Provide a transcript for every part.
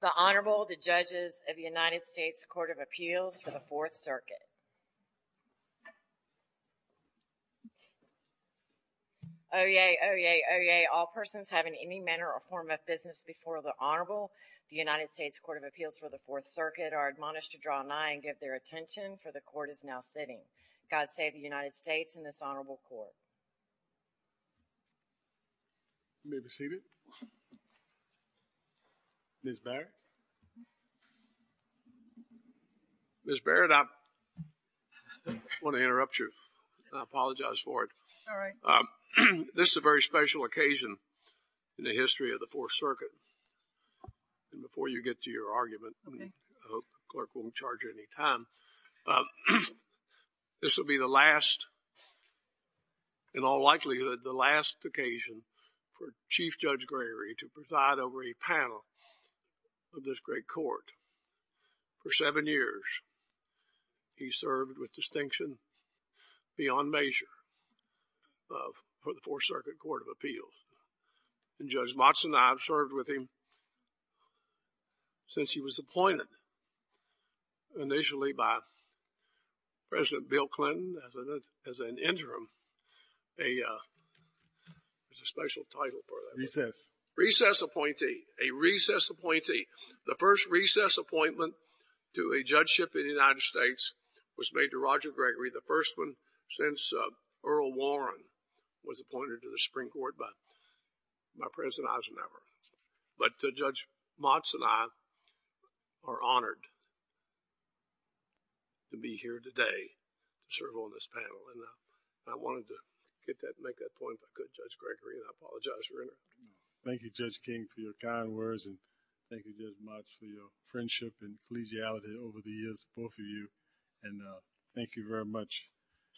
The Honorable, the Judges of the United States Court of Appeals for the 4th Circuit. Oyez, oyez, oyez, all persons having any manner or form of business before the Honorable, the United States Court of Appeals for the 4th Circuit, are admonished to draw nigh and give their attention, for the Court is now sitting. God save the United States and this Honorable Court. You may be seated. Ms. Barrett? Ms. Barrett, I want to interrupt you, and I apologize for it. This is a very special occasion in the history of the 4th Circuit, and before you get to your argument, I hope the clerk won't charge you any time. This will be the last, in all likelihood, the last occasion for Chief Judge Gregory to preside over a panel of this great Court. For seven years, he served with distinction beyond measure for the 4th Circuit Court of Appeals. And Judge Motson and I have served with him since he was appointed initially by President Bill Clinton as an interim, there's a special title for that. Recess. Recess appointee. A recess appointee. The first recess appointment to a judgeship in the United States was made to Roger Gregory, the first one since Earl Warren was appointed to the Supreme Court by President Eisenhower. But Judge Motson and I are honored to be here today to serve on this panel, and I wanted to get that, make that point if I could, Judge Gregory, and I apologize for interrupting. Thank you, Judge King, for your kind words, and thank you, Judge Motson, for your friendship and collegiality over the years, both of you. And thank you very much.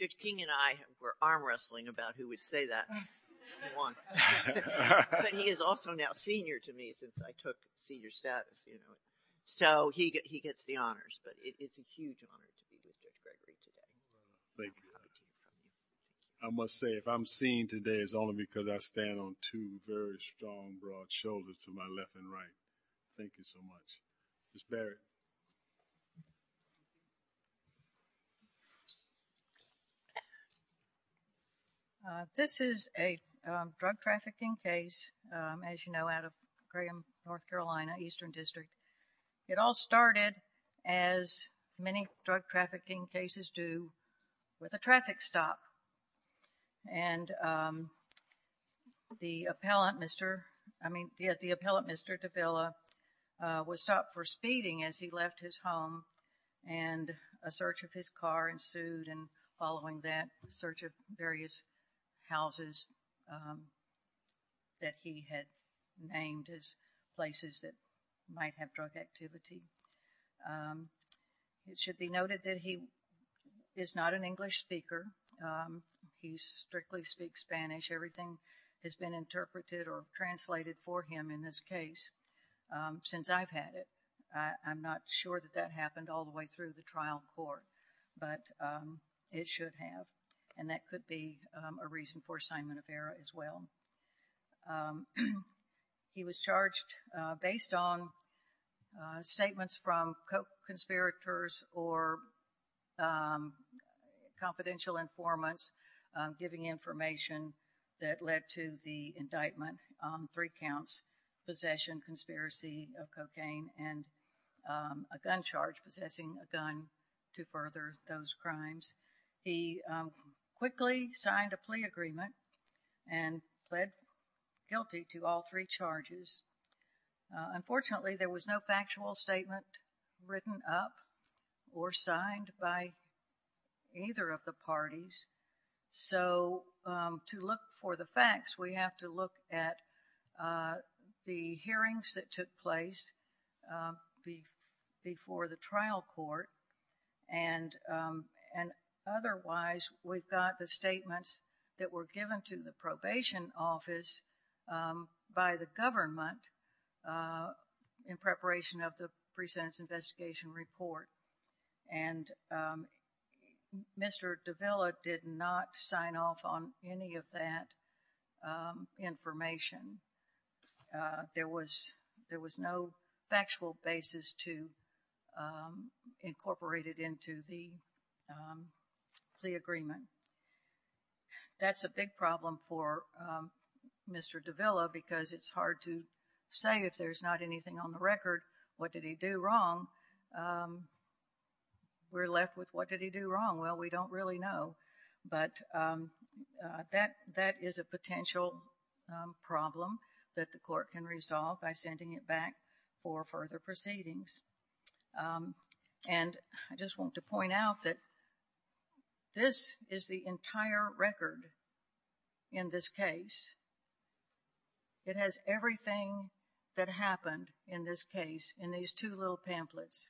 Judge King and I were arm wrestling about who would say that. But he is also now senior to me since I took senior status, you know. So he gets the honors, but it's a huge honor to be with Judge Gregory today. Thank you. I must say, if I'm seen today, it's only because I stand on two very strong, broad shoulders to my left and right. Thank you so much. Ms. Barrett. This is a drug trafficking case, as you know, out of Graham, North Carolina, Eastern District. It all started, as many drug trafficking cases do, with a traffic stop. And the appellant, Mr. I mean, yeah, the appellant, Mr. de Villa, was stopped for speeding as he left his home, and a search of his car ensued, and following that, a search of various houses that he had named as places that might have drug activity. It should be noted that he is not an English speaker. He strictly speaks Spanish. Everything has been interpreted or translated for him in this case since I've had it. I'm not sure that that happened all the way through the trial court, but it should have. And that could be a reason for assignment of error as well. He was charged based on statements from conspirators or confidential informants giving information that led to the indictment on three counts, possession, conspiracy of cocaine, and a gun charge, possessing a gun to further those crimes. He quickly signed a plea agreement and pled guilty to all three charges. Unfortunately, there was no factual statement written up or signed by either of the parties. So to look for the facts, we have to look at the hearings that took place before the Otherwise, we've got the statements that were given to the probation office by the government in preparation of the pre-sentence investigation report, and Mr. Davila did not sign off on any of that information. There was no factual basis to incorporate it into the plea agreement. That's a big problem for Mr. Davila because it's hard to say if there's not anything on the record. What did he do wrong? We're left with what did he do wrong? Well, we don't really know, but that is a potential problem that the court can resolve by sending it back for further proceedings. And I just want to point out that this is the entire record in this case. It has everything that happened in this case in these two little pamphlets.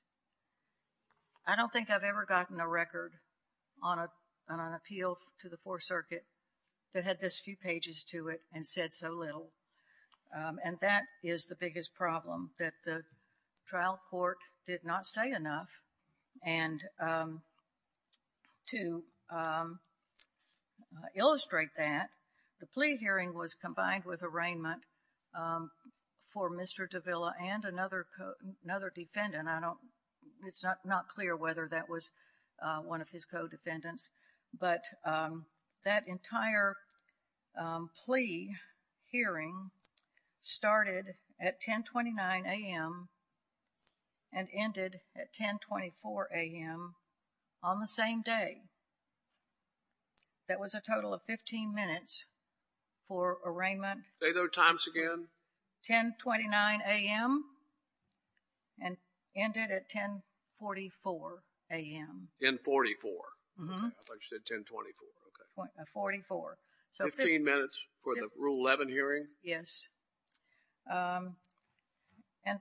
I don't think I've ever gotten a record on an appeal to the Fourth Circuit that had this few pages to it and said so little, and that is the biggest problem, that the trial court did not say enough. And to illustrate that, the plea hearing was combined with arraignment for Mr. Davila and another defendant. It's not clear whether that was one of his co-defendants, but that entire plea hearing started at 10.29 a.m. and ended at 10.24 a.m. on the same day. That was a total of fifteen minutes for arraignment...... and ended at 10.44 a.m. In 44? Mm-hmm. I thought you said 10.24. Okay. Forty-four. Fifteen minutes for the Rule 11 hearing? Yes. And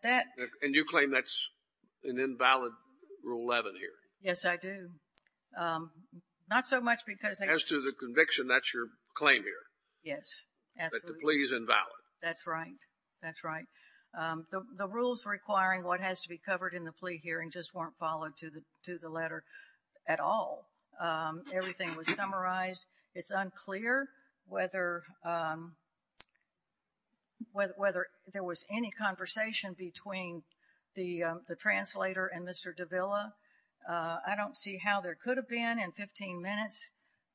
that... And you claim that's an invalid Rule 11 hearing? Yes, I do. Not so much because... As to the conviction, that's your claim here? Yes. Absolutely. That the plea is invalid? That's right. That's right. The rules requiring what has to be covered in the plea hearing just weren't followed to the letter at all. Everything was summarized. It's unclear whether there was any conversation between the translator and Mr. Davila. I don't see how there could have been in fifteen minutes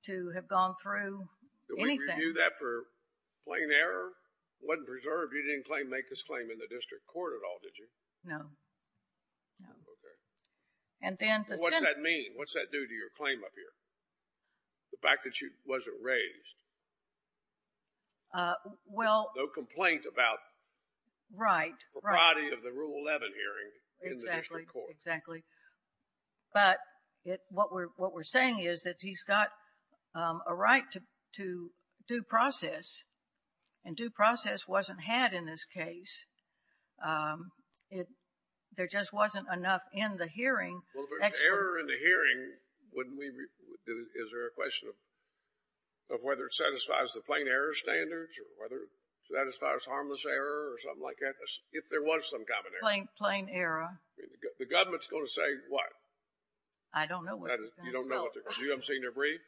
to have gone through anything. Did we review that for plain error? It wasn't preserved. You didn't claim to make this claim in the district court at all, did you? No. No. Okay. And then... What's that mean? What's that do to your claim up here? The fact that you wasn't raised? Well... No complaint about... Right. Right.... the propriety of the Rule 11 hearing in the district court. Exactly. But what we're saying is that he's got a right to due process, and due process wasn't had in this case. There just wasn't enough in the hearing... Well, if there's error in the hearing, wouldn't we... is there a question of whether it satisfies the plain error standards or whether it satisfies harmless error or something like that, if there was some kind of error? Plain error. The government's going to say what? I don't know what they're going to say. You don't know what they're... do you know what they're going to say in their brief?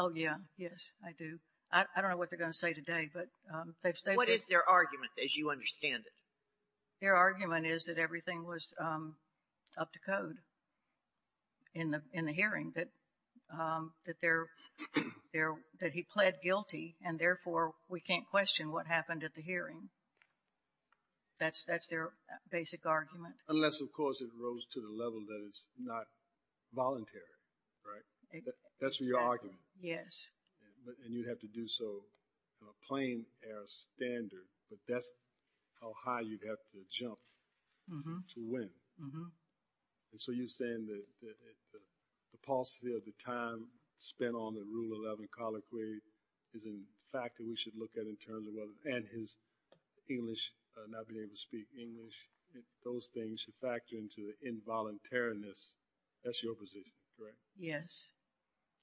Oh, yeah. Yes. I do. I don't know what they're going to say today, but they've... What is their argument, as you understand it? Their argument is that everything was up to code in the hearing, that they're... that he pled guilty, and therefore, we can't question what happened at the hearing. That's their basic argument. Unless, of course, it rose to the level that it's not voluntary, right? That's your argument? Yes. And you'd have to do so in a plain error standard, but that's how high you'd have to jump to win. And so you're saying that the paucity of the time spent on the Rule 11 colloquy is in fact a fact that we should look at in terms of whether... and his English, not being able to speak English, those things should factor into the involuntariness. That's your position, correct? Yes.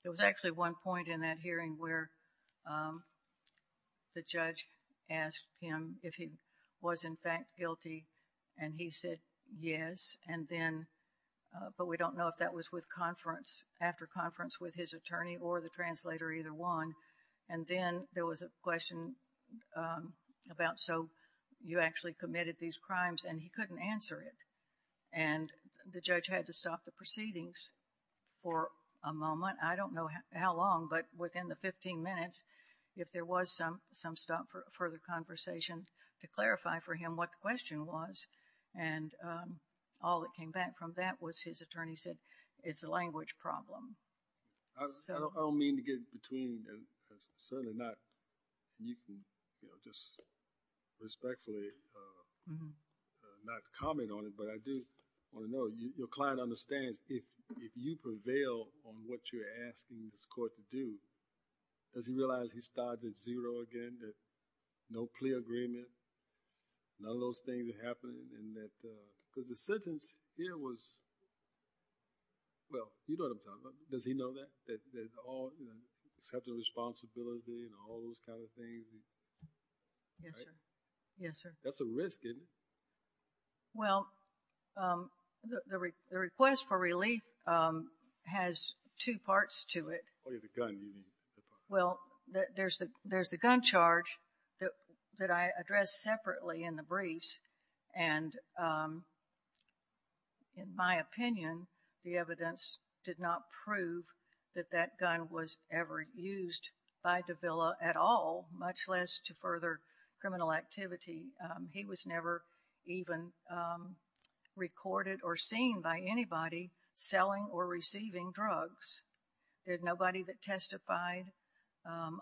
There was actually one point in that hearing where the judge asked him if he was in fact guilty, and he said yes, and then... but we don't know if that was with conference, after conference with his attorney or the translator, either one. And then there was a question about, so you actually committed these crimes, and he couldn't answer it. And the judge had to stop the proceedings for a moment. I don't know how long, but within the 15 minutes, if there was some stop for further conversation to clarify for him what the question was, and all that came back from that was his attorney said it's a language problem. I don't mean to get between, and certainly not, and you can just respectfully not comment on it, but I do want to know, your client understands if you prevail on what you're asking this court to do, does he realize he starts at zero again, that no plea agreement, none of those things are happening, and that... because the sentence here was... Well, you know what I'm talking about. Does he know that? That all... accepting responsibility and all those kind of things. Yes, sir. Yes, sir. That's a risk, isn't it? Well, the request for relief has two parts to it. Oh, yeah, the gun, you mean. Well, there's the gun charge that I addressed separately in the briefs, and in my opinion, the evidence did not prove that that gun was ever used by Davila at all, much less to further criminal activity. He was never even recorded or seen by anybody selling or receiving drugs. There's nobody that testified,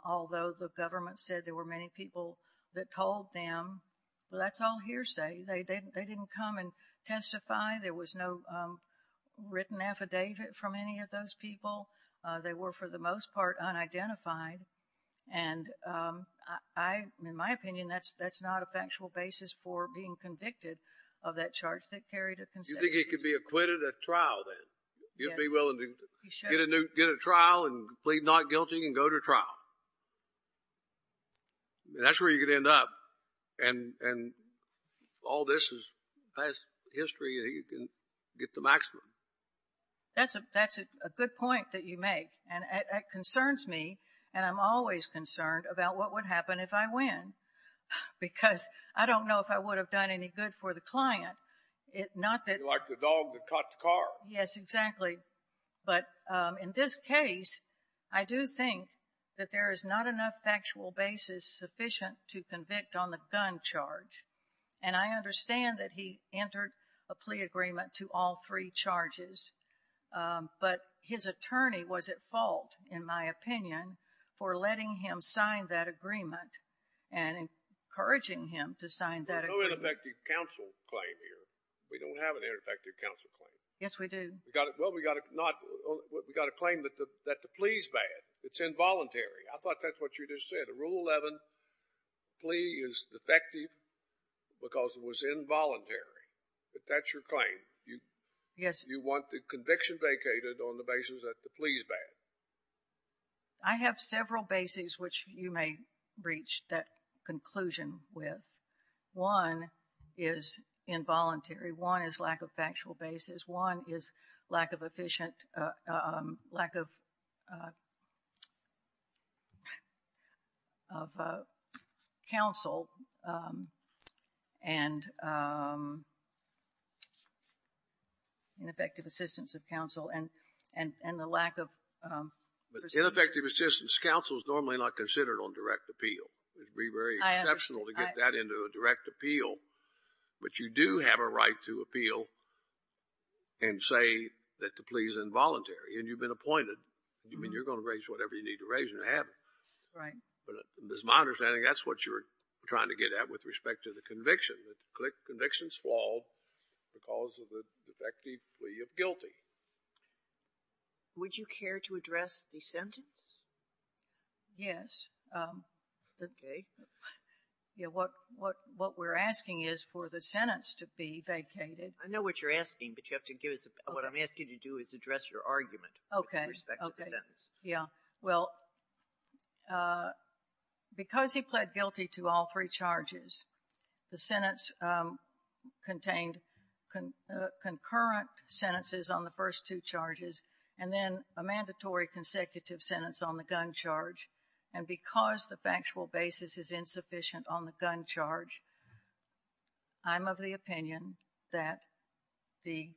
although the government said there were many people that told them, but that's all hearsay. They didn't come and testify. There was no written affidavit from any of those people. They were, for the most part, unidentified, and I... in my opinion, that's not a factual basis for being convicted of that charge that carried a... You think he could be acquitted at trial then? Yes. You'd be willing to get a trial and plead not guilty and go to trial? I mean, that's where you could end up, and all this has history that you can get to maximum. That's a good point that you make, and it concerns me, and I'm always concerned about what would happen if I win, because I don't know if I would have done any good for the client. Not that... You're like the dog that caught the car. Yes, exactly. But in this case, I do think that there is not enough factual basis sufficient to convict on the gun charge, and I understand that he entered a plea agreement to all three charges, but his attorney was at fault, in my opinion, for letting him sign that agreement and encouraging him to sign that agreement. There's no ineffective counsel claim here. We don't have an ineffective counsel claim. Yes, we do. Well, we got a claim that the plea is bad. It's involuntary. I thought that's what you just said. A Rule 11 plea is defective because it was involuntary, but that's your claim. Yes. You want the conviction vacated on the basis that the plea is bad. I have several bases which you may reach that conclusion with. One is involuntary. One is lack of factual basis. One is lack of efficient, lack of counsel and ineffective assistance of counsel and the lack of... Ineffective assistance. Counsel is normally not considered on direct appeal. It would be very exceptional to get that into a direct appeal, but you do have a right to appeal and say that the plea is involuntary and you've been appointed. You mean you're going to raise whatever you need to raise and have it. Right. It's my understanding that's what you're trying to get at with respect to the conviction. The conviction is flawed because of the defective plea of guilty. Would you care to address the sentence? Yes. Okay. What we're asking is for the sentence to be vacated. I know what you're asking, but what I'm asking you to do is address your argument with respect to the sentence. Okay. Well, because he pled guilty to all three charges, the sentence contained concurrent sentences on the first two charges and then a mandatory consecutive sentence on the gun charge. And because the factual basis is insufficient on the gun charge, I'm of the opinion that the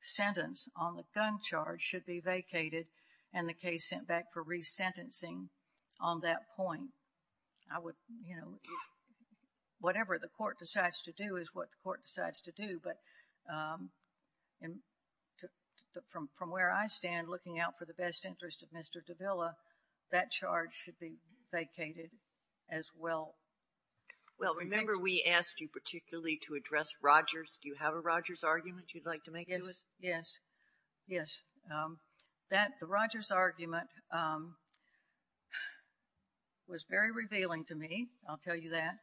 sentence on the gun charge should be vacated and the case sent back for resentencing on that point. I would, you know, whatever the court decides to do is what the court decides to do, but from where I stand looking out for the best interest of Mr. Davila, that charge should be vacated as well. Well, remember we asked you particularly to address Rogers. Do you have a Rogers argument you'd like to make to us? Yes. Yes. The Rogers argument was very revealing to me, I'll tell you that.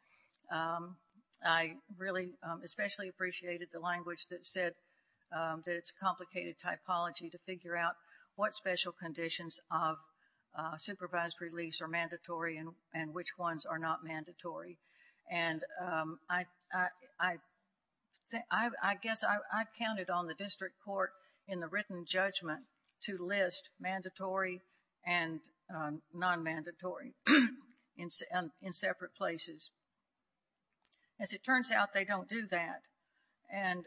I really especially appreciated the language that said that it's a complicated typology to figure out what special conditions of supervised release are mandatory and which ones are not mandatory. And I guess I counted on the district court in the written judgment to list mandatory and non-mandatory in separate places. As it turns out, they don't do that. And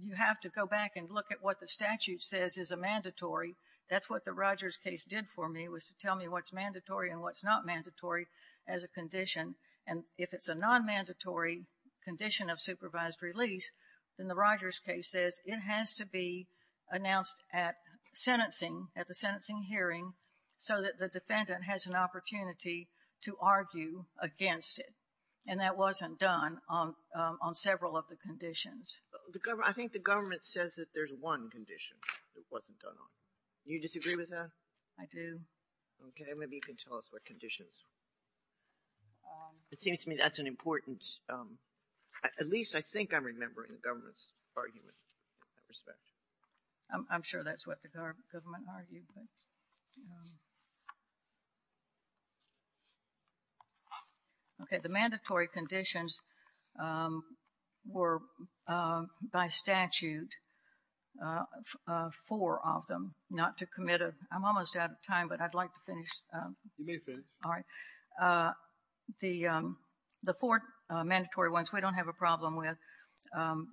you have to go back and look at what the statute says is a mandatory. That's what the Rogers case did for me was to tell me what's mandatory and what's not mandatory as a condition. And if it's a non-mandatory condition of supervised release, then the Rogers case says it has to be announced at sentencing, at the sentencing hearing, so that the defendant has an opportunity to argue against it. And that wasn't done on several of the conditions. I think the government says that there's one condition that wasn't done on. Do you disagree with that? I do. Okay. Maybe you can tell us what conditions. It seems to me that's an important – at least I think I'm remembering the government's argument in that respect. I'm sure that's what the government argued. Okay. The mandatory conditions were, by statute, four of them, not to commit a – I'm almost out of time, but I'd like to finish. You may finish. All right. The four mandatory ones we don't have a problem with.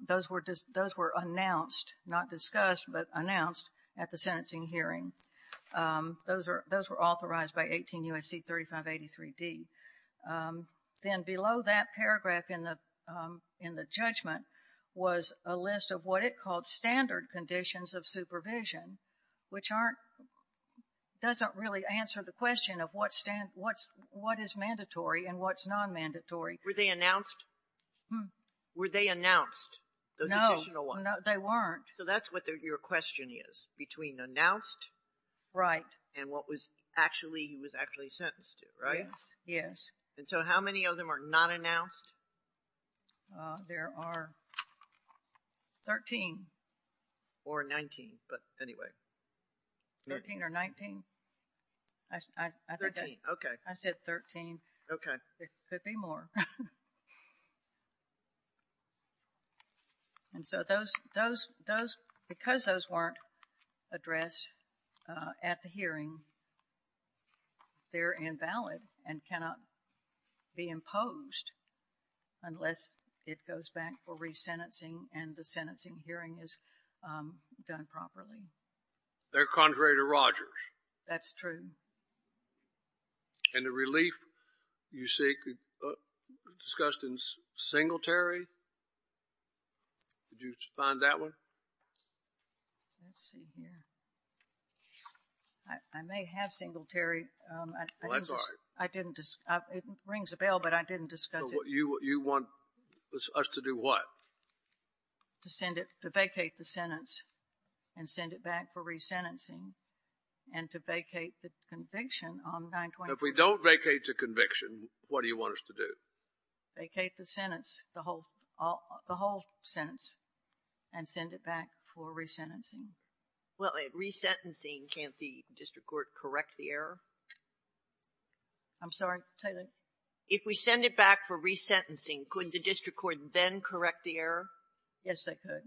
Those were announced, not discussed, but announced at the sentencing hearing. Those were authorized by 18 U.S.C. 3583D. Then below that paragraph in the judgment was a list of what it called standard conditions of supervision, which aren't – doesn't really answer the question of what is mandatory and what's non-mandatory. Were they announced? Were they announced, those additional ones? No, they weren't. So that's what your question is, between announced and what was actually – he was actually sentenced to, right? Yes. And so how many of them are not announced? There are 13. Or 19, but anyway. 13 or 19. 13, okay. I said 13. Okay. There could be more. And so those – because those weren't addressed at the hearing, they're invalid and cannot be imposed unless it goes back for resentencing and the sentencing hearing is done properly. They're contrary to Rogers. That's true. And the relief you seek discussed in Singletary? Did you find that one? Let's see here. I may have Singletary. Well, that's all right. I didn't – it rings a bell, but I didn't discuss it. You want us to do what? To send it – to vacate the sentence and send it back for resentencing and to vacate the conviction on 9-21. If we don't vacate the conviction, what do you want us to do? Vacate the sentence, the whole sentence, and send it back for resentencing. Well, at resentencing, can't the district court correct the error? I'm sorry? If we send it back for resentencing, could the district court then correct the error? Yes, they could.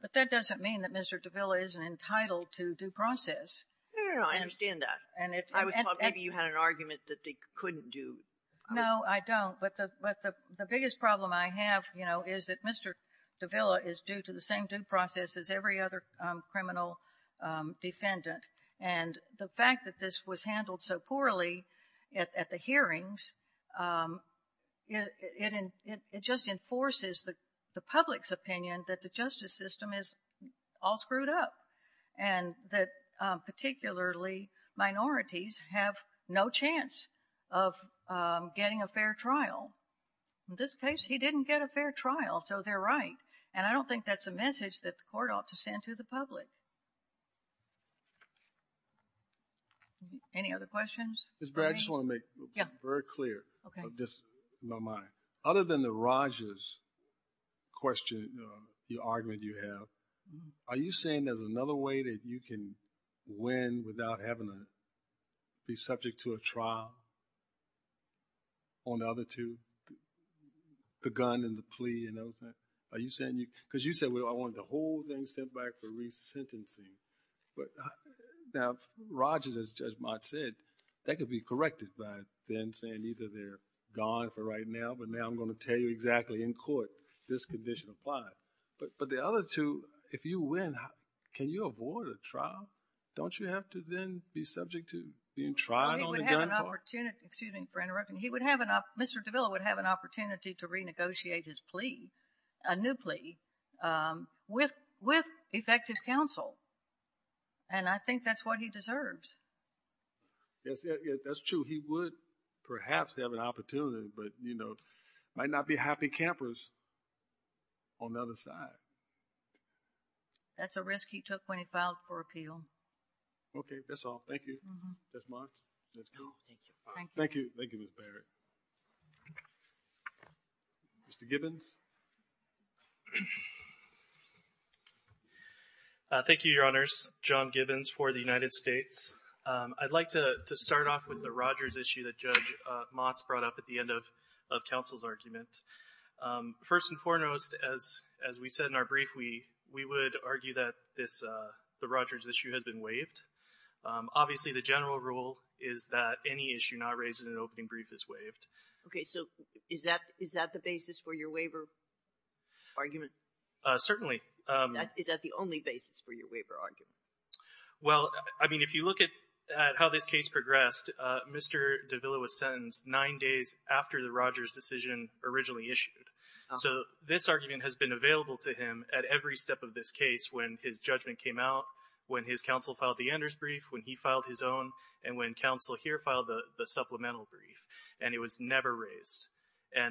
But that doesn't mean that Mr. Davila isn't entitled to due process. No, no, no. I understand that. I would have thought maybe you had an argument that they couldn't do. No, I don't. But the biggest problem I have, you know, is that Mr. Davila is due to the same due process as every other criminal defendant. And the fact that this was handled so poorly at the hearings, it just enforces the public's opinion that the justice system is all screwed up and that particularly minorities have no chance of getting a fair trial. In this case, he didn't get a fair trial, so they're right. And I don't think that's a message that the court ought to send to the public. Any other questions? Ms. Barry, I just want to make it very clear, just in my mind. Other than the Rogers question, the argument you have, are you saying there's another way that you can win without having to be subject to a trial on the other two, the gun and the plea and those things? Because you said, well, I want the whole thing sent back for resentencing. Now, Rogers, as Judge Mott said, that could be corrected by then saying either they're gone for right now, but now I'm going to tell you exactly in court this condition applies. But the other two, if you win, can you avoid a trial? Don't you have to then be subject to being tried on the gun part? He would have an opportunity. Excuse me for interrupting. Mr. Davila would have an opportunity to renegotiate his plea, a new plea, with effective counsel, and I think that's what he deserves. Yes, that's true. He would perhaps have an opportunity, but, you know, might not be happy campers on the other side. That's a risk he took when he filed for appeal. Okay, that's all. Thank you, Judge Mott. Thank you. Thank you, Ms. Barry. Mr. Gibbons. Thank you, Your Honors. John Gibbons for the United States. I'd like to start off with the Rogers issue that Judge Mott brought up at the end of counsel's argument. First and foremost, as we said in our brief, we would argue that the Rogers issue has been waived. Obviously, the general rule is that any issue not raised in an opening brief is waived. Okay, so is that the basis for your waiver argument? Certainly. Is that the only basis for your waiver argument? Well, I mean, if you look at how this case progressed, Mr. Davila was sentenced nine days after the Rogers decision originally issued. So this argument has been available to him at every step of this case when his counsel filed the Enders brief, when he filed his own, and when counsel here filed the supplemental brief, and it was never raised. Why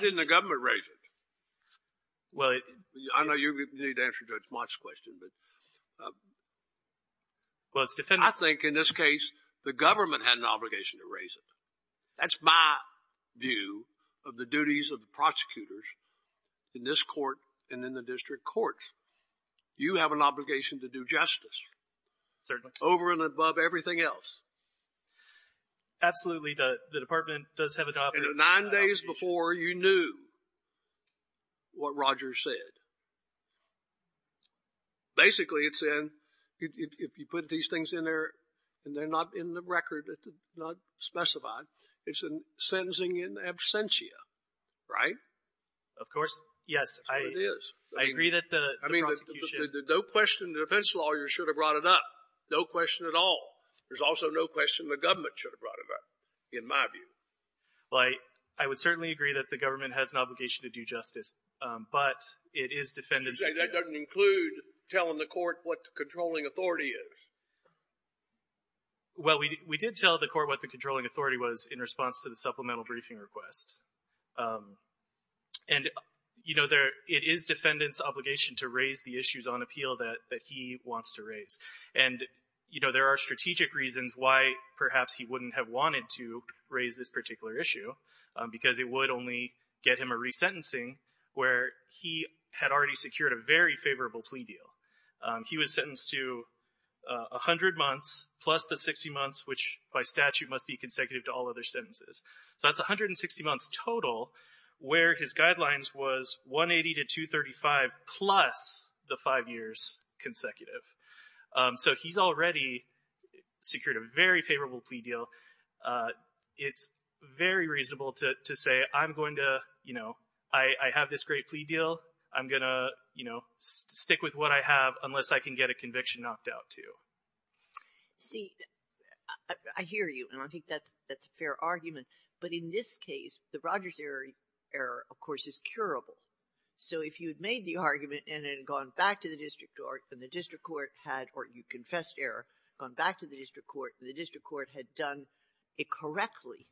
didn't the government raise it? I know you need to answer Judge Mott's question. I think in this case, the government had an obligation to raise it. That's my view of the duties of the prosecutors in this court and in the department. You have an obligation to do justice. Certainly. Over and above everything else. Absolutely, the department does have an obligation. Nine days before you knew what Rogers said. Basically, it's in, if you put these things in there, and they're not in the record, not specified, it's in sentencing in absentia, right? Of course, yes. That's what it is. I agree that the prosecution — I mean, no question the defense lawyers should have brought it up. No question at all. There's also no question the government should have brought it up, in my view. Well, I would certainly agree that the government has an obligation to do justice, but it is defended — You say that doesn't include telling the court what the controlling authority is. Well, we did tell the court what the controlling authority was in response to the supplemental briefing request. And it is defendant's obligation to raise the issues on appeal that he wants to raise. And there are strategic reasons why perhaps he wouldn't have wanted to raise this particular issue, because it would only get him a resentencing where he had already secured a very favorable plea deal. He was sentenced to 100 months plus the 60 months, which by statute must be consecutive to all other sentences. So that's 160 months total, where his guidelines was 180 to 235 plus the five years consecutive. So he's already secured a very favorable plea deal. It's very reasonable to say, I'm going to — you know, I have this great plea deal. I'm going to, you know, stick with what I have unless I can get a conviction knocked out, too. See, I hear you. And I think that's a fair argument. But in this case, the Rogers error, of course, is curable. So if you had made the argument and had gone back to the district court and the district court had — or you confessed error, gone back to the district court and the district court had done it correctly,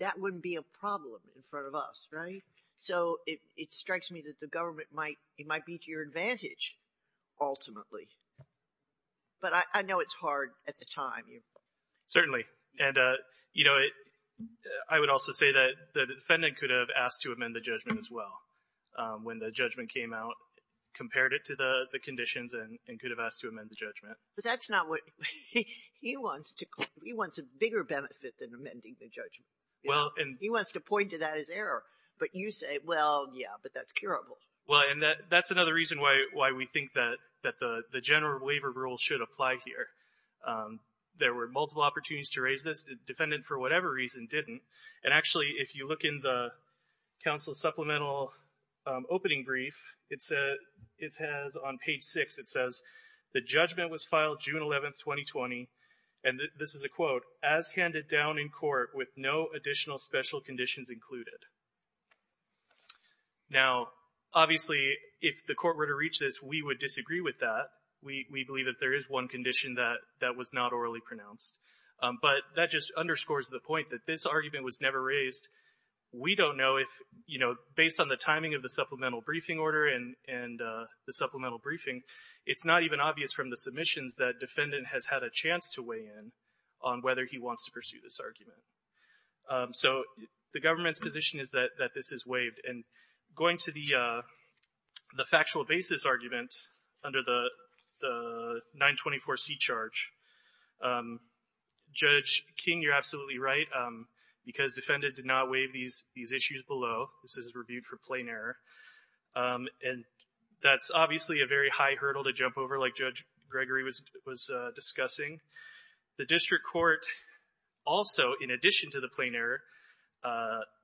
that wouldn't be a problem in front of us, right? So it strikes me that the government might — it might be to your advantage ultimately. But I know it's hard at the time. Certainly. And, you know, I would also say that the defendant could have asked to amend the judgment as well when the judgment came out, compared it to the conditions and could have asked to amend the judgment. But that's not what — he wants a bigger benefit than amending the judgment. He wants to point to that as error. But you say, well, yeah, but that's curable. Well, and that's another reason why we think that the general waiver rule should apply here. There were multiple opportunities to raise this. The defendant, for whatever reason, didn't. And actually, if you look in the council supplemental opening brief, it says on page six, it says, the judgment was filed June 11th, 2020. And this is a quote, as handed down in court with no additional special conditions included. Now, obviously, if the court were to reach this, we would disagree with that. We believe that there is one condition that was not orally pronounced. But that just underscores the point that this argument was never raised. We don't know if, you know, based on the timing of the supplemental briefing order and the supplemental briefing, it's not even obvious from the submissions that defendant has had a chance to weigh in on whether he wants to pursue this argument. So the government's position is that this is waived. And going to the factual basis argument under the 924C charge, Judge King, you're absolutely right, because defendant did not waive these issues below. This is reviewed for plain error. And that's obviously a very high hurdle to jump over, like Judge Gregory was discussing. The district court also, in addition to the plain error,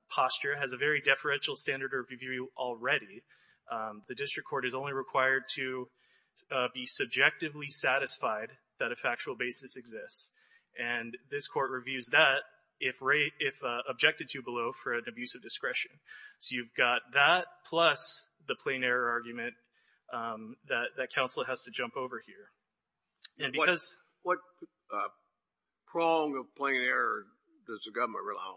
posture has a very deferential standard of review already. The district court is only required to be subjectively satisfied that a factual basis exists. And this court reviews that if objected to below for an abuse of discretion. So you've got that plus the plain error argument that counsel has to jump over here. What prong of plain error does the government rely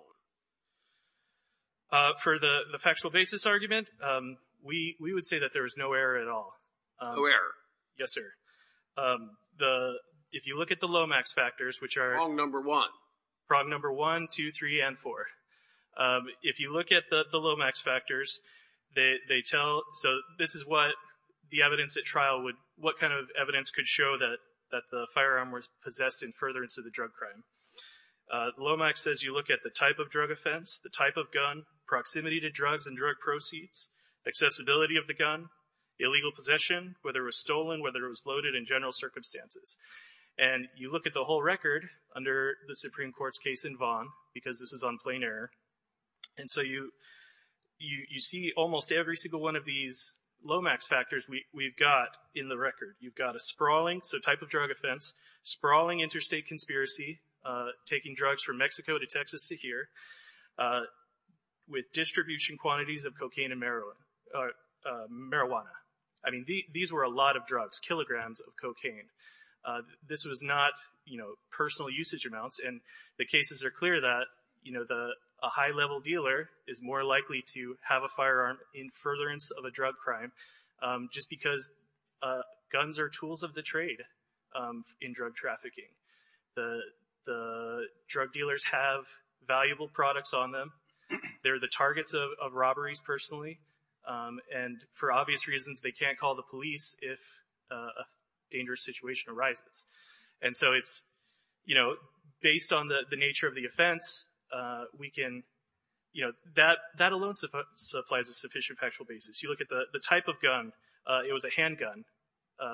on? For the factual basis argument, we would say that there was no error at all. No error. Yes, sir. If you look at the Lomax factors, which are. Prong number one. Prong number one, two, three, and four. If you look at the Lomax factors, they tell. So this is what the evidence at trial would. What kind of evidence could show that the firearm was possessed in furtherance of the drug crime? Lomax says you look at the type of drug offense, the type of gun, proximity to drugs and drug proceeds, accessibility of the gun, illegal possession, whether it was stolen, whether it was loaded in general circumstances. And you look at the whole record under the Supreme Court's case in Vaughan because this is on plain error. And so you see almost every single one of these Lomax factors we've got in the record. You've got a sprawling, so type of drug offense, sprawling interstate conspiracy, taking drugs from Mexico to Texas to here, with distribution quantities of cocaine and marijuana. I mean, these were a lot of drugs, kilograms of cocaine. This was not, you know, personal usage amounts. And the cases are clear that, you know, a high-level dealer is more likely to have a firearm in furtherance of a drug crime just because guns are tools of the trade in drug trafficking. The drug dealers have valuable products on them. They're the targets of robberies personally. And for obvious reasons, they can't call the police if a dangerous situation arises. And so it's, you know, based on the nature of the offense, we can, you know, that alone supplies a sufficient factual basis. You look at the type of gun. It was a handgun,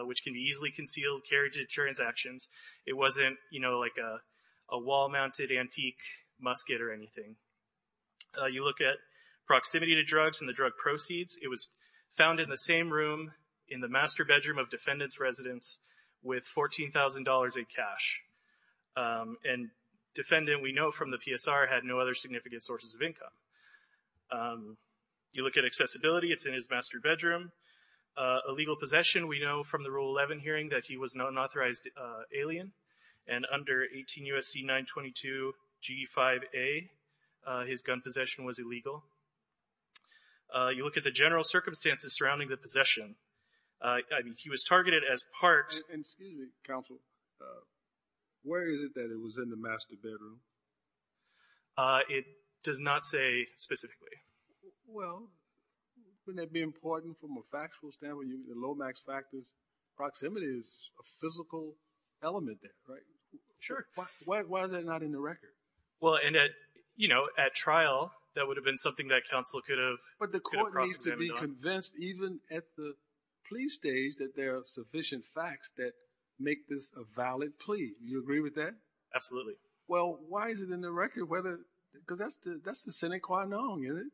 which can be easily concealed, carried to transactions. It wasn't, you know, like a wall-mounted antique musket or anything. You look at proximity to drugs and the drug proceeds. It was found in the same room in the master bedroom of defendant's residence with $14,000 in cash. And defendant, we know from the PSR, had no other significant sources of income. You look at accessibility. It's in his master bedroom. Illegal possession. We know from the Rule 11 hearing that he was an unauthorized alien. And under 18 U.S.C. 922 G5A, his gun possession was illegal. You look at the general circumstances surrounding the possession. I mean, he was targeted as part— Excuse me, counsel. Where is it that it was in the master bedroom? It does not say specifically. Well, wouldn't that be important from a factual standpoint? You mean the low-max factors? Proximity is a physical element there, right? Sure. Why is that not in the record? Well, and at, you know, at trial, that would have been something that counsel could have— But the court needs to be convinced, even at the plea stage, that there are sufficient facts that make this a valid plea. Do you agree with that? Absolutely. Well, why is it in the record? Because that's the sine qua non, isn't it?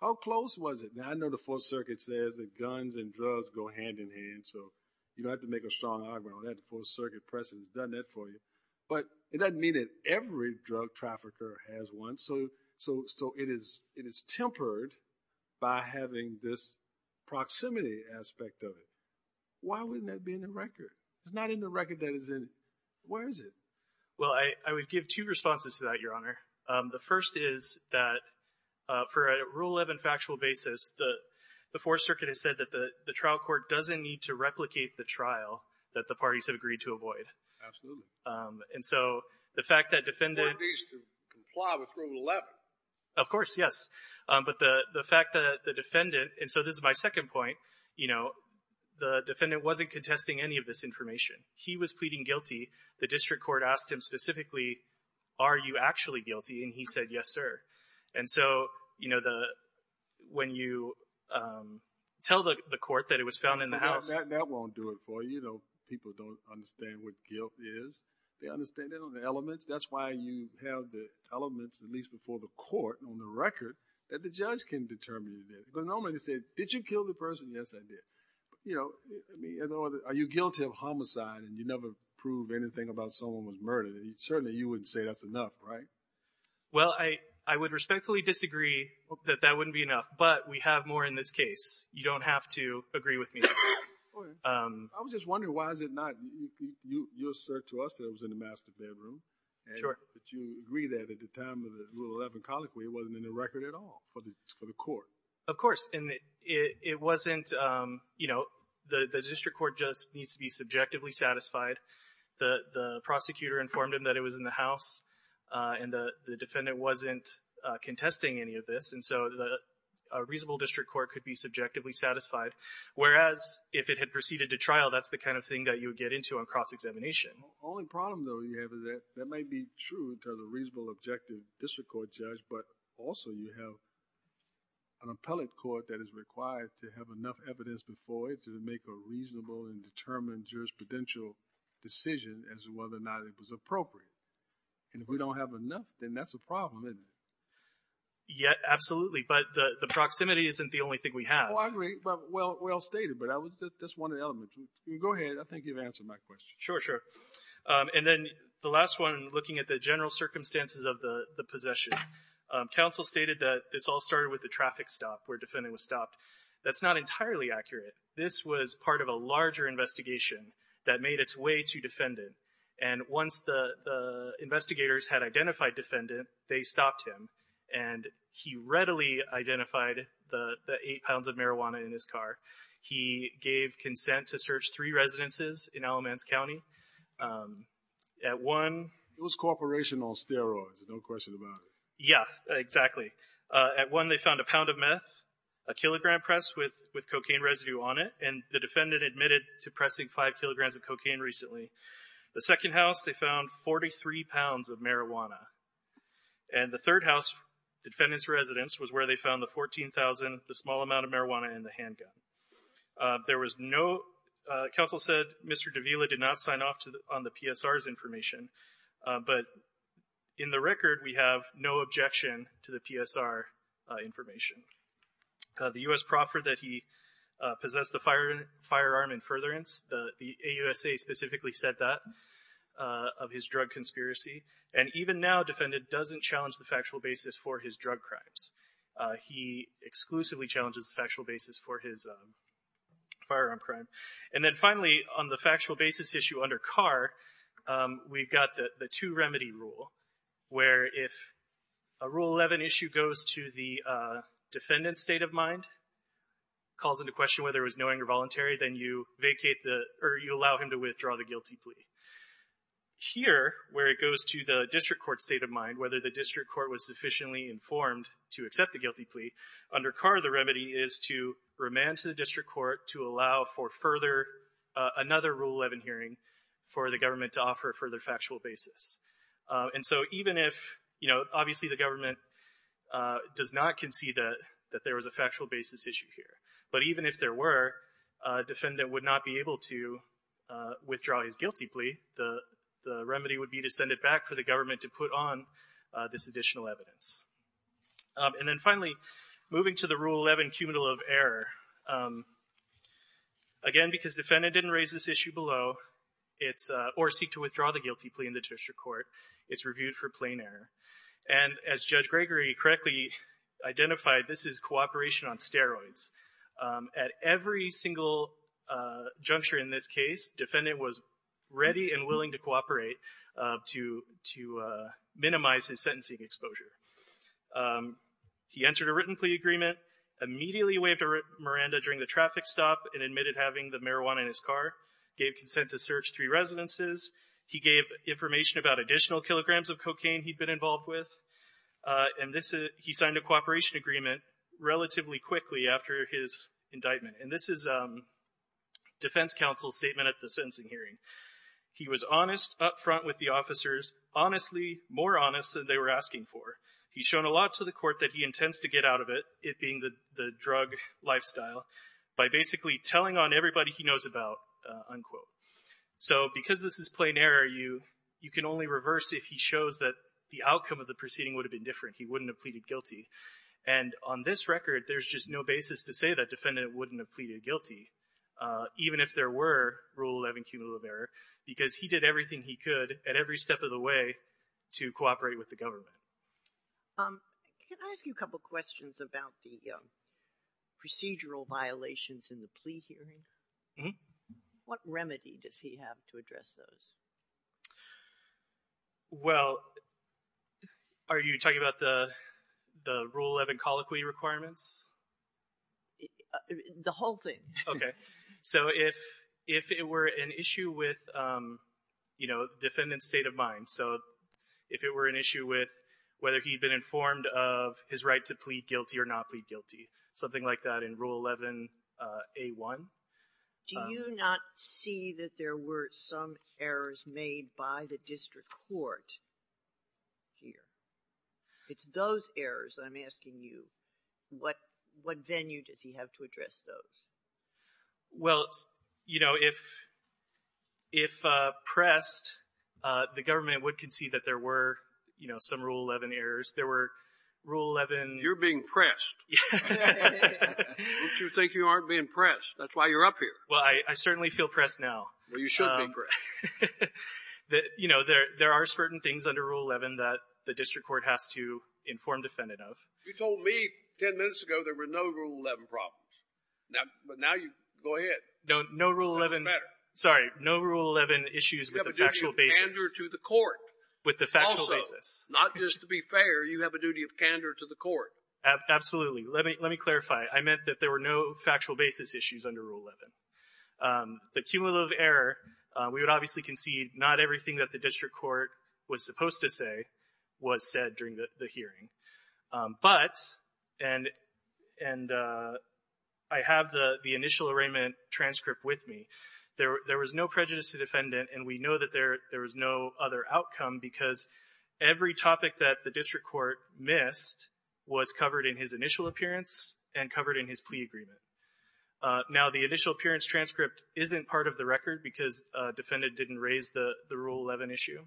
How close was it? Now, I know the Fourth Circuit says that guns and drugs go hand-in-hand, so you don't have to make a strong argument on that. The Fourth Circuit precedent has done that for you. But it doesn't mean that every drug trafficker has one. So it is tempered by having this proximity aspect of it. Why wouldn't that be in the record? It's not in the record that it's in. Where is it? Well, I would give two responses to that, Your Honor. The first is that for a Rule 11 factual basis, the Fourth Circuit has said that the trial court doesn't need to replicate the trial that the parties have agreed to avoid. Absolutely. And so the fact that defendants— Of course, yes. But the fact that the defendant—and so this is my second point. The defendant wasn't contesting any of this information. He was pleading guilty. The district court asked him specifically, are you actually guilty? And he said, yes, sir. And so when you tell the court that it was found in the house— That won't do it for you. People don't understand what guilt is. They understand it on the elements. That's why you have the elements, at least before the court, on the record that the judge can determine you did it. Because normally they say, did you kill the person? Yes, I did. Are you guilty of homicide and you never prove anything about someone was murdered? Certainly you wouldn't say that's enough, right? Well, I would respectfully disagree that that wouldn't be enough, but we have more in this case. You don't have to agree with me. I was just wondering why is it not— Sure. Of course. And it wasn't—you know, the district court just needs to be subjectively satisfied. The prosecutor informed him that it was in the house, and the defendant wasn't contesting any of this. And so a reasonable district court could be subjectively satisfied, whereas if it had proceeded to trial, that's the kind of thing that you would get into on cross-examination. The only problem, though, you have is that that might be true in terms of a reasonable objective district court judge, but also you have an appellate court that is required to have enough evidence before it to make a reasonable and determined jurisprudential decision as to whether or not it was appropriate. And if we don't have enough, then that's a problem, isn't it? Yeah, absolutely. But the proximity isn't the only thing we have. Oh, I agree. Well stated, but that's one of the elements. Go ahead. I think you've answered my question. Sure, sure. And then the last one, looking at the general circumstances of the possession, counsel stated that this all started with the traffic stop, where the defendant was stopped. That's not entirely accurate. This was part of a larger investigation that made its way to defendant. And once the investigators had identified defendant, they stopped him, and he readily identified the eight pounds of marijuana in his car. He gave consent to search three residences in Alamance County. At one. It was corporation on steroids. There's no question about it. Yeah, exactly. At one, they found a pound of meth, a kilogram press with cocaine residue on it, and the defendant admitted to pressing five kilograms of cocaine recently. The second house, they found 43 pounds of marijuana. And the third house, the defendant's residence, was where they found the $14,000, the small amount of marijuana, and the handgun. There was no – counsel said Mr. Davila did not sign off on the PSR's information. But in the record, we have no objection to the PSR information. The U.S. proffered that he possess the firearm in furtherance. The AUSA specifically said that of his drug conspiracy. And even now, defendant doesn't challenge the factual basis for his drug crimes. He exclusively challenges the factual basis for his firearm crime. And then finally, on the factual basis issue under Carr, we've got the two-remedy rule, where if a Rule 11 issue goes to the defendant's state of mind, calls into question whether it was knowing or voluntary, then you allow him to withdraw the guilty plea. Here, where it goes to the district court's state of mind, whether the district court was sufficiently informed to accept the guilty plea, under Carr, the remedy is to remand to the district court to allow for further – another Rule 11 hearing for the government to offer further factual basis. And so even if – you know, obviously the government does not concede that there was a factual basis issue here. But even if there were, defendant would not be able to withdraw his guilty plea. The remedy would be to send it back for the government to put on this additional evidence. And then finally, moving to the Rule 11 cumulative error. Again, because defendant didn't raise this issue below, or seek to withdraw the guilty plea in the district court, it's reviewed for plain error. And as Judge Gregory correctly identified, this is cooperation on steroids. At every single juncture in this case, defendant was ready and willing to cooperate to minimize his sentencing exposure. He entered a written plea agreement, immediately waved a Miranda during the traffic stop and admitted having the marijuana in his car, gave consent to search three residences. He gave information about additional kilograms of cocaine he'd been involved with. And this – he signed a cooperation agreement relatively quickly after his indictment. And this is defense counsel's statement at the sentencing hearing. He was honest up front with the officers, honestly, more honest than they were asking for. He's shown a lot to the court that he intends to get out of it, it being the drug lifestyle, by basically telling on everybody he knows about, unquote. So because this is plain error, you can only reverse if he shows that the outcome of the proceeding would have been different. He wouldn't have pleaded guilty. And on this record, there's just no basis to say that defendant wouldn't have pleaded guilty, even if there were Rule 11 cumulative error, because he did everything he could at every step of the way to cooperate with the government. Can I ask you a couple questions about the procedural violations in the plea hearing? What remedy does he have to address those? Well, are you talking about the Rule 11 colloquy requirements? The whole thing. Okay. So if it were an issue with, you know, defendant's state of mind, so if it were an issue with whether he'd been informed of his right to plead guilty or not plead guilty, something like that in Rule 11a.1. Do you not see that there were some errors made by the district court here? It's those errors that I'm asking you. What venue does he have to address those? Well, you know, if pressed, the government would concede that there were, you know, some Rule 11 errors. There were Rule 11. You're being pressed. Don't you think you aren't being pressed? That's why you're up here. Well, I certainly feel pressed now. Well, you should be pressed. You know, there are certain things under Rule 11 that the district court has to inform defendant of. You told me 10 minutes ago there were no Rule 11 problems. But now you go ahead. Sorry. No Rule 11 issues with the factual basis. You have a duty of candor to the court. With the factual basis. Also, not just to be fair, you have a duty of candor to the court. Absolutely. Let me clarify. I meant that there were no factual basis issues under Rule 11. The cumulative error, we would obviously concede not everything that the district court was supposed to say was said during the hearing. But, and I have the initial arraignment transcript with me. There was no prejudice to defendant, and we know that there was no other outcome because every topic that the district court missed was covered in his initial appearance and covered in his plea agreement. Now, the initial appearance transcript isn't part of the record because defendant didn't raise the Rule 11 issue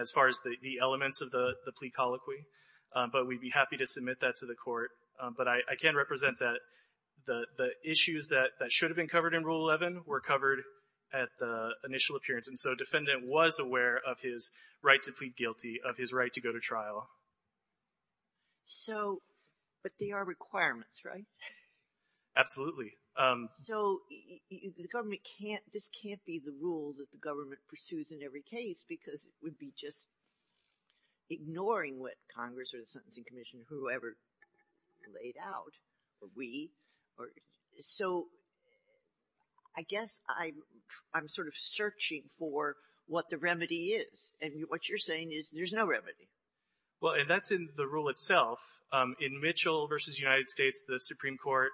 as far as the elements of the plea colloquy. But we'd be happy to submit that to the court. But I can represent that the issues that should have been covered in Rule 11 were covered at the initial appearance. And so, defendant was aware of his right to plead guilty, of his right to go to trial. So, but they are requirements, right? Absolutely. So, the government can't, this can't be the rule that the government pursues in every case because it would be just ignoring what Congress or the Sentencing Commission or whoever laid out, or we. So, I guess I'm sort of searching for what the remedy is. And what you're saying is there's no remedy. Well, and that's in the rule itself. In Mitchell v. United States, the Supreme Court,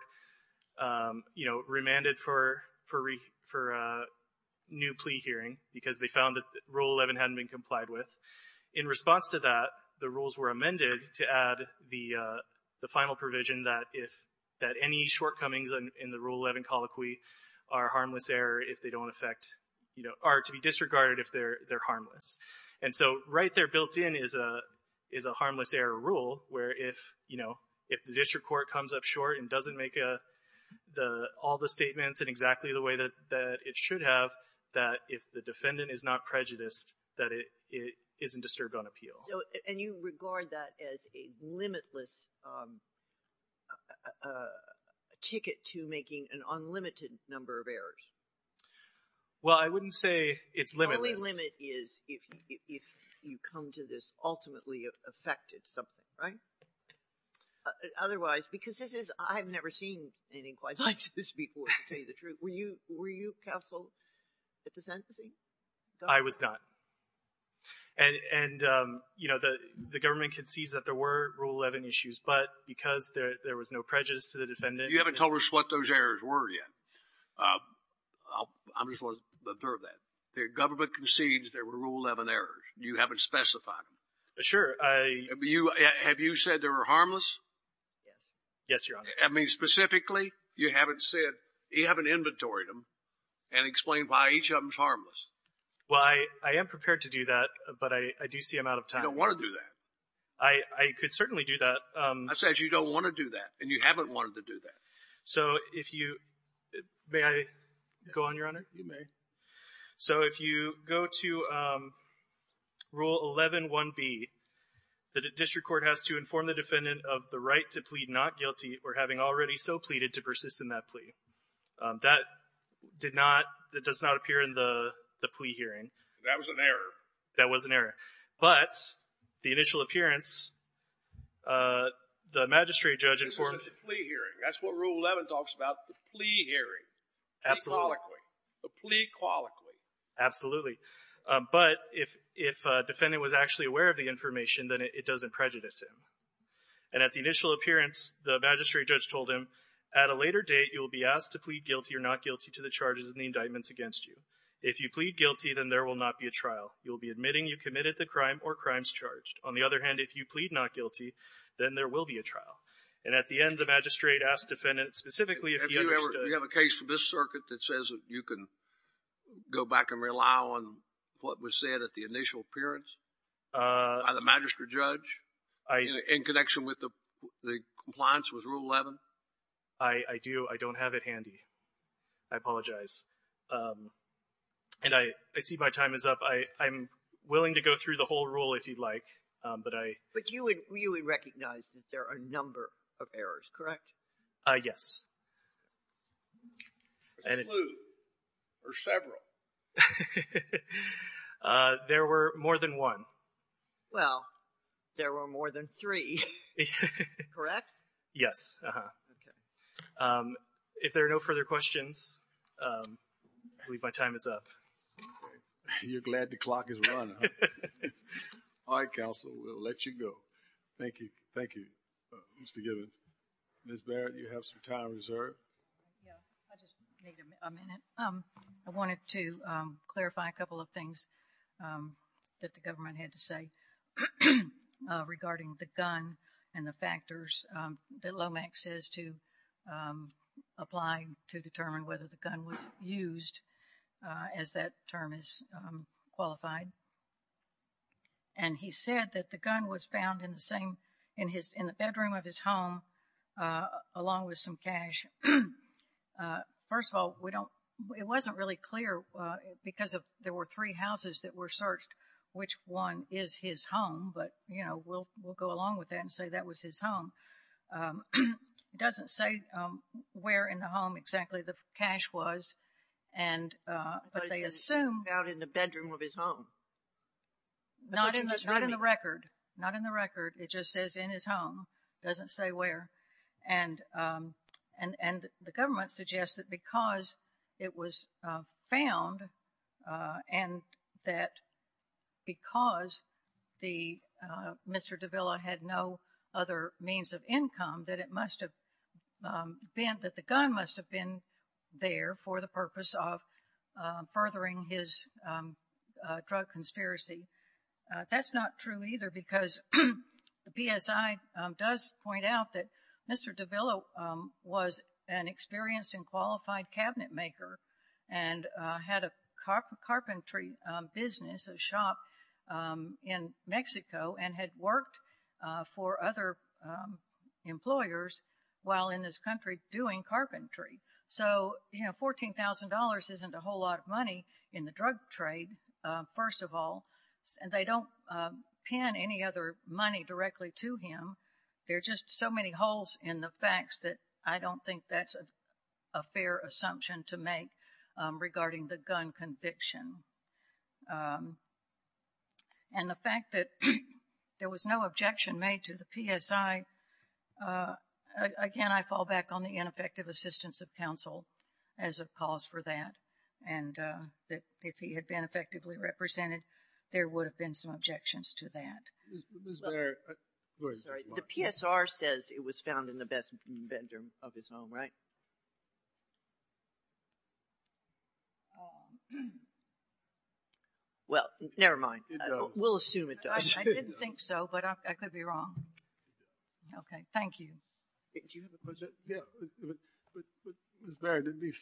you know, remanded for a new plea hearing because they found that Rule 11 hadn't been complied with. In response to that, the rules were amended to add the final provision that if, that any shortcomings in the Rule 11 colloquy are harmless error if they don't affect, you know, are to be disregarded if they're harmless. And so, right there built in is a harmless error rule where if, you know, if the district court comes up short and doesn't make all the statements in exactly the way that it should have, that if the defendant is not prejudiced, that it isn't disturbed on appeal. And you regard that as a limitless ticket to making an unlimited number of errors. Well, I wouldn't say it's limitless. The only limit is if you come to this ultimately affected something, right? Otherwise, because this is, I've never seen anything quite like this before, to tell you the truth. Were you counsel at the sentencing? I was not. And, you know, the government concedes that there were Rule 11 issues, but because there was no prejudice to the defendant. You haven't told us what those errors were yet. I just want to observe that. The government concedes there were Rule 11 errors. You haven't specified them. Sure. Have you said they were harmless? Yes, Your Honor. I mean, specifically, you haven't said, you haven't inventoried them and explained why each of them is harmless. Well, I am prepared to do that, but I do see I'm out of time. You don't want to do that. I could certainly do that. I said you don't want to do that, and you haven't wanted to do that. So if you, may I go on, Your Honor? You may. So if you go to Rule 11-1B, the district court has to inform the defendant of the right to plead not guilty or having already so pleaded to persist in that plea. That did not, that does not appear in the plea hearing. That was an error. That was an error. But the initial appearance, the magistrate judge informed. This was a plea hearing. That's what Rule 11 talks about, the plea hearing. Absolutely. A plea colloquy. Absolutely. But if a defendant was actually aware of the information, then it doesn't prejudice him. And at the initial appearance, the magistrate judge told him, at a later date, you will be asked to plead guilty or not guilty to the charges and the indictments against you. If you plead guilty, then there will not be a trial. You will be admitting you committed the crime or crimes charged. On the other hand, if you plead not guilty, then there will be a trial. And at the end, the magistrate asked the defendant specifically if he understood. Do you have a case for this circuit that says you can go back and rely on what was said at the initial appearance by the magistrate judge? In connection with the compliance with Rule 11? I do. I don't have it handy. I apologize. And I see my time is up. I'm willing to go through the whole rule if you'd like, but I — But you would recognize that there are a number of errors, correct? Yes. Exclude or several? There were more than one. Well, there were more than three. Correct? Yes. If there are no further questions, I believe my time is up. You're glad the clock has run, huh? All right, counsel, we'll let you go. Thank you. Thank you, Mr. Gibbons. Ms. Barrett, you have some time reserved. Yeah, I just need a minute. I wanted to clarify a couple of things that the government had to say regarding the gun and the factors that LOMAC says to apply to determine whether the gun was used, as that term is qualified. And he said that the gun was found in the bedroom of his home along with some cash. First of all, we don't — it wasn't really clear because there were three houses that were searched, which one is his home, but, you know, we'll go along with that and say that was his home. It doesn't say where in the home exactly the cash was, but they assume — It was found in the bedroom of his home. Not in the record. Not in the record. It just says in his home. It doesn't say where. And the government suggests that because it was found and that because Mr. Davila had no other means of income that it must have been — that the gun must have been there for the purpose of furthering his drug conspiracy. That's not true either because the PSI does point out that Mr. Davila was an experienced and qualified cabinetmaker and had a carpentry business, a shop, in Mexico and had worked for other employers while in this country doing carpentry. So, you know, $14,000 isn't a whole lot of money in the drug trade, first of all, and they don't pin any other money directly to him. There are just so many holes in the facts that I don't think that's a fair assumption to make regarding the gun conviction. And the fact that there was no objection made to the PSI — again, I fall back on the ineffective assistance of counsel as a cause for that and that if he had been effectively represented, there would have been some objections to that. The PSR says it was found in the best bedroom of his home, right? Well, never mind. We'll assume it does. I didn't think so, but I could be wrong. Okay, thank you. Do you have a question? Yeah. But, Ms. Barry, to be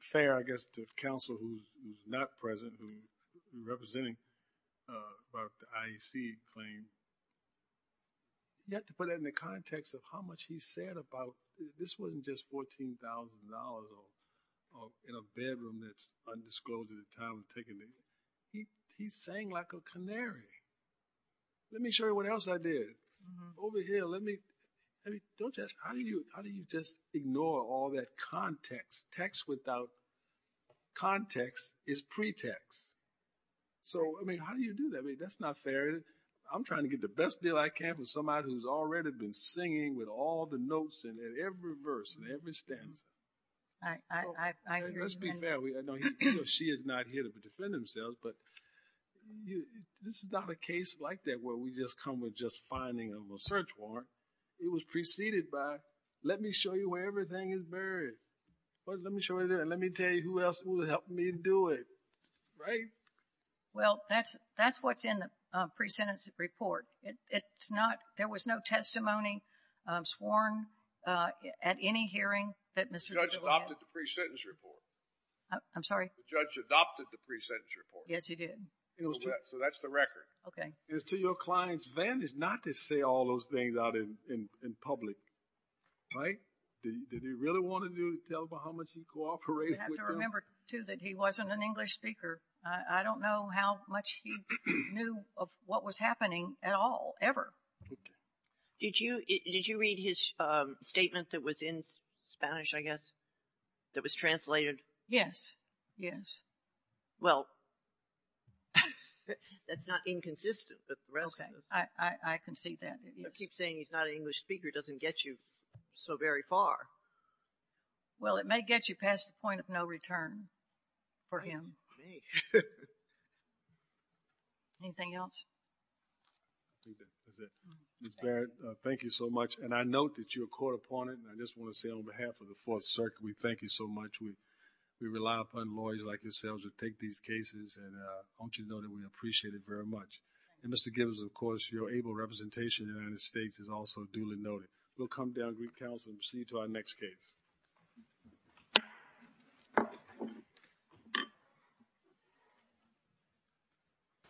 fair, I guess, to counsel who's not present, who's representing about the IEC claim, you have to put that in the context of how much he said about this wasn't just $14,000 in a bedroom that's undisclosed at the time of taking it. He sang like a canary. Let me show you what else I did. Over here, let me — I mean, don't just — how do you just ignore all that context? Text without context is pretext. So, I mean, how do you do that? I mean, that's not fair. I'm trying to get the best deal I can from somebody who's already been singing with all the notes in every verse and every stanza. I agree. Let's be fair. I know she is not here to defend themselves, but this is not a case like that where we just come with just finding a search warrant. It was preceded by, let me show you where everything is buried. Let me show you that. Let me tell you who else will help me do it. Right? Well, that's what's in the pre-sentence report. The judge adopted the pre-sentence report. I'm sorry? The judge adopted the pre-sentence report. Yes, he did. So, that's the record. Okay. It's to your client's advantage not to say all those things out in public. Right? Did he really want to tell about how much he cooperated with them? You have to remember, too, that he wasn't an English speaker. I don't know how much he knew of what was happening at all, ever. Did you read his statement that was in Spanish, I guess, that was translated? Yes. Yes. Well, that's not inconsistent. Okay. I can see that. You keep saying he's not an English speaker. It doesn't get you so very far. Well, it may get you past the point of no return for him. It may. Anything else? I think that's it. Ms. Barrett, thank you so much. And I note that you're a court opponent. And I just want to say on behalf of the Fourth Circuit, we thank you so much. We rely upon lawyers like yourselves to take these cases. And I want you to know that we appreciate it very much. And Mr. Gibbons, of course, your able representation in the United States is also duly noted. We'll come down, greet counsel, and proceed to our next case.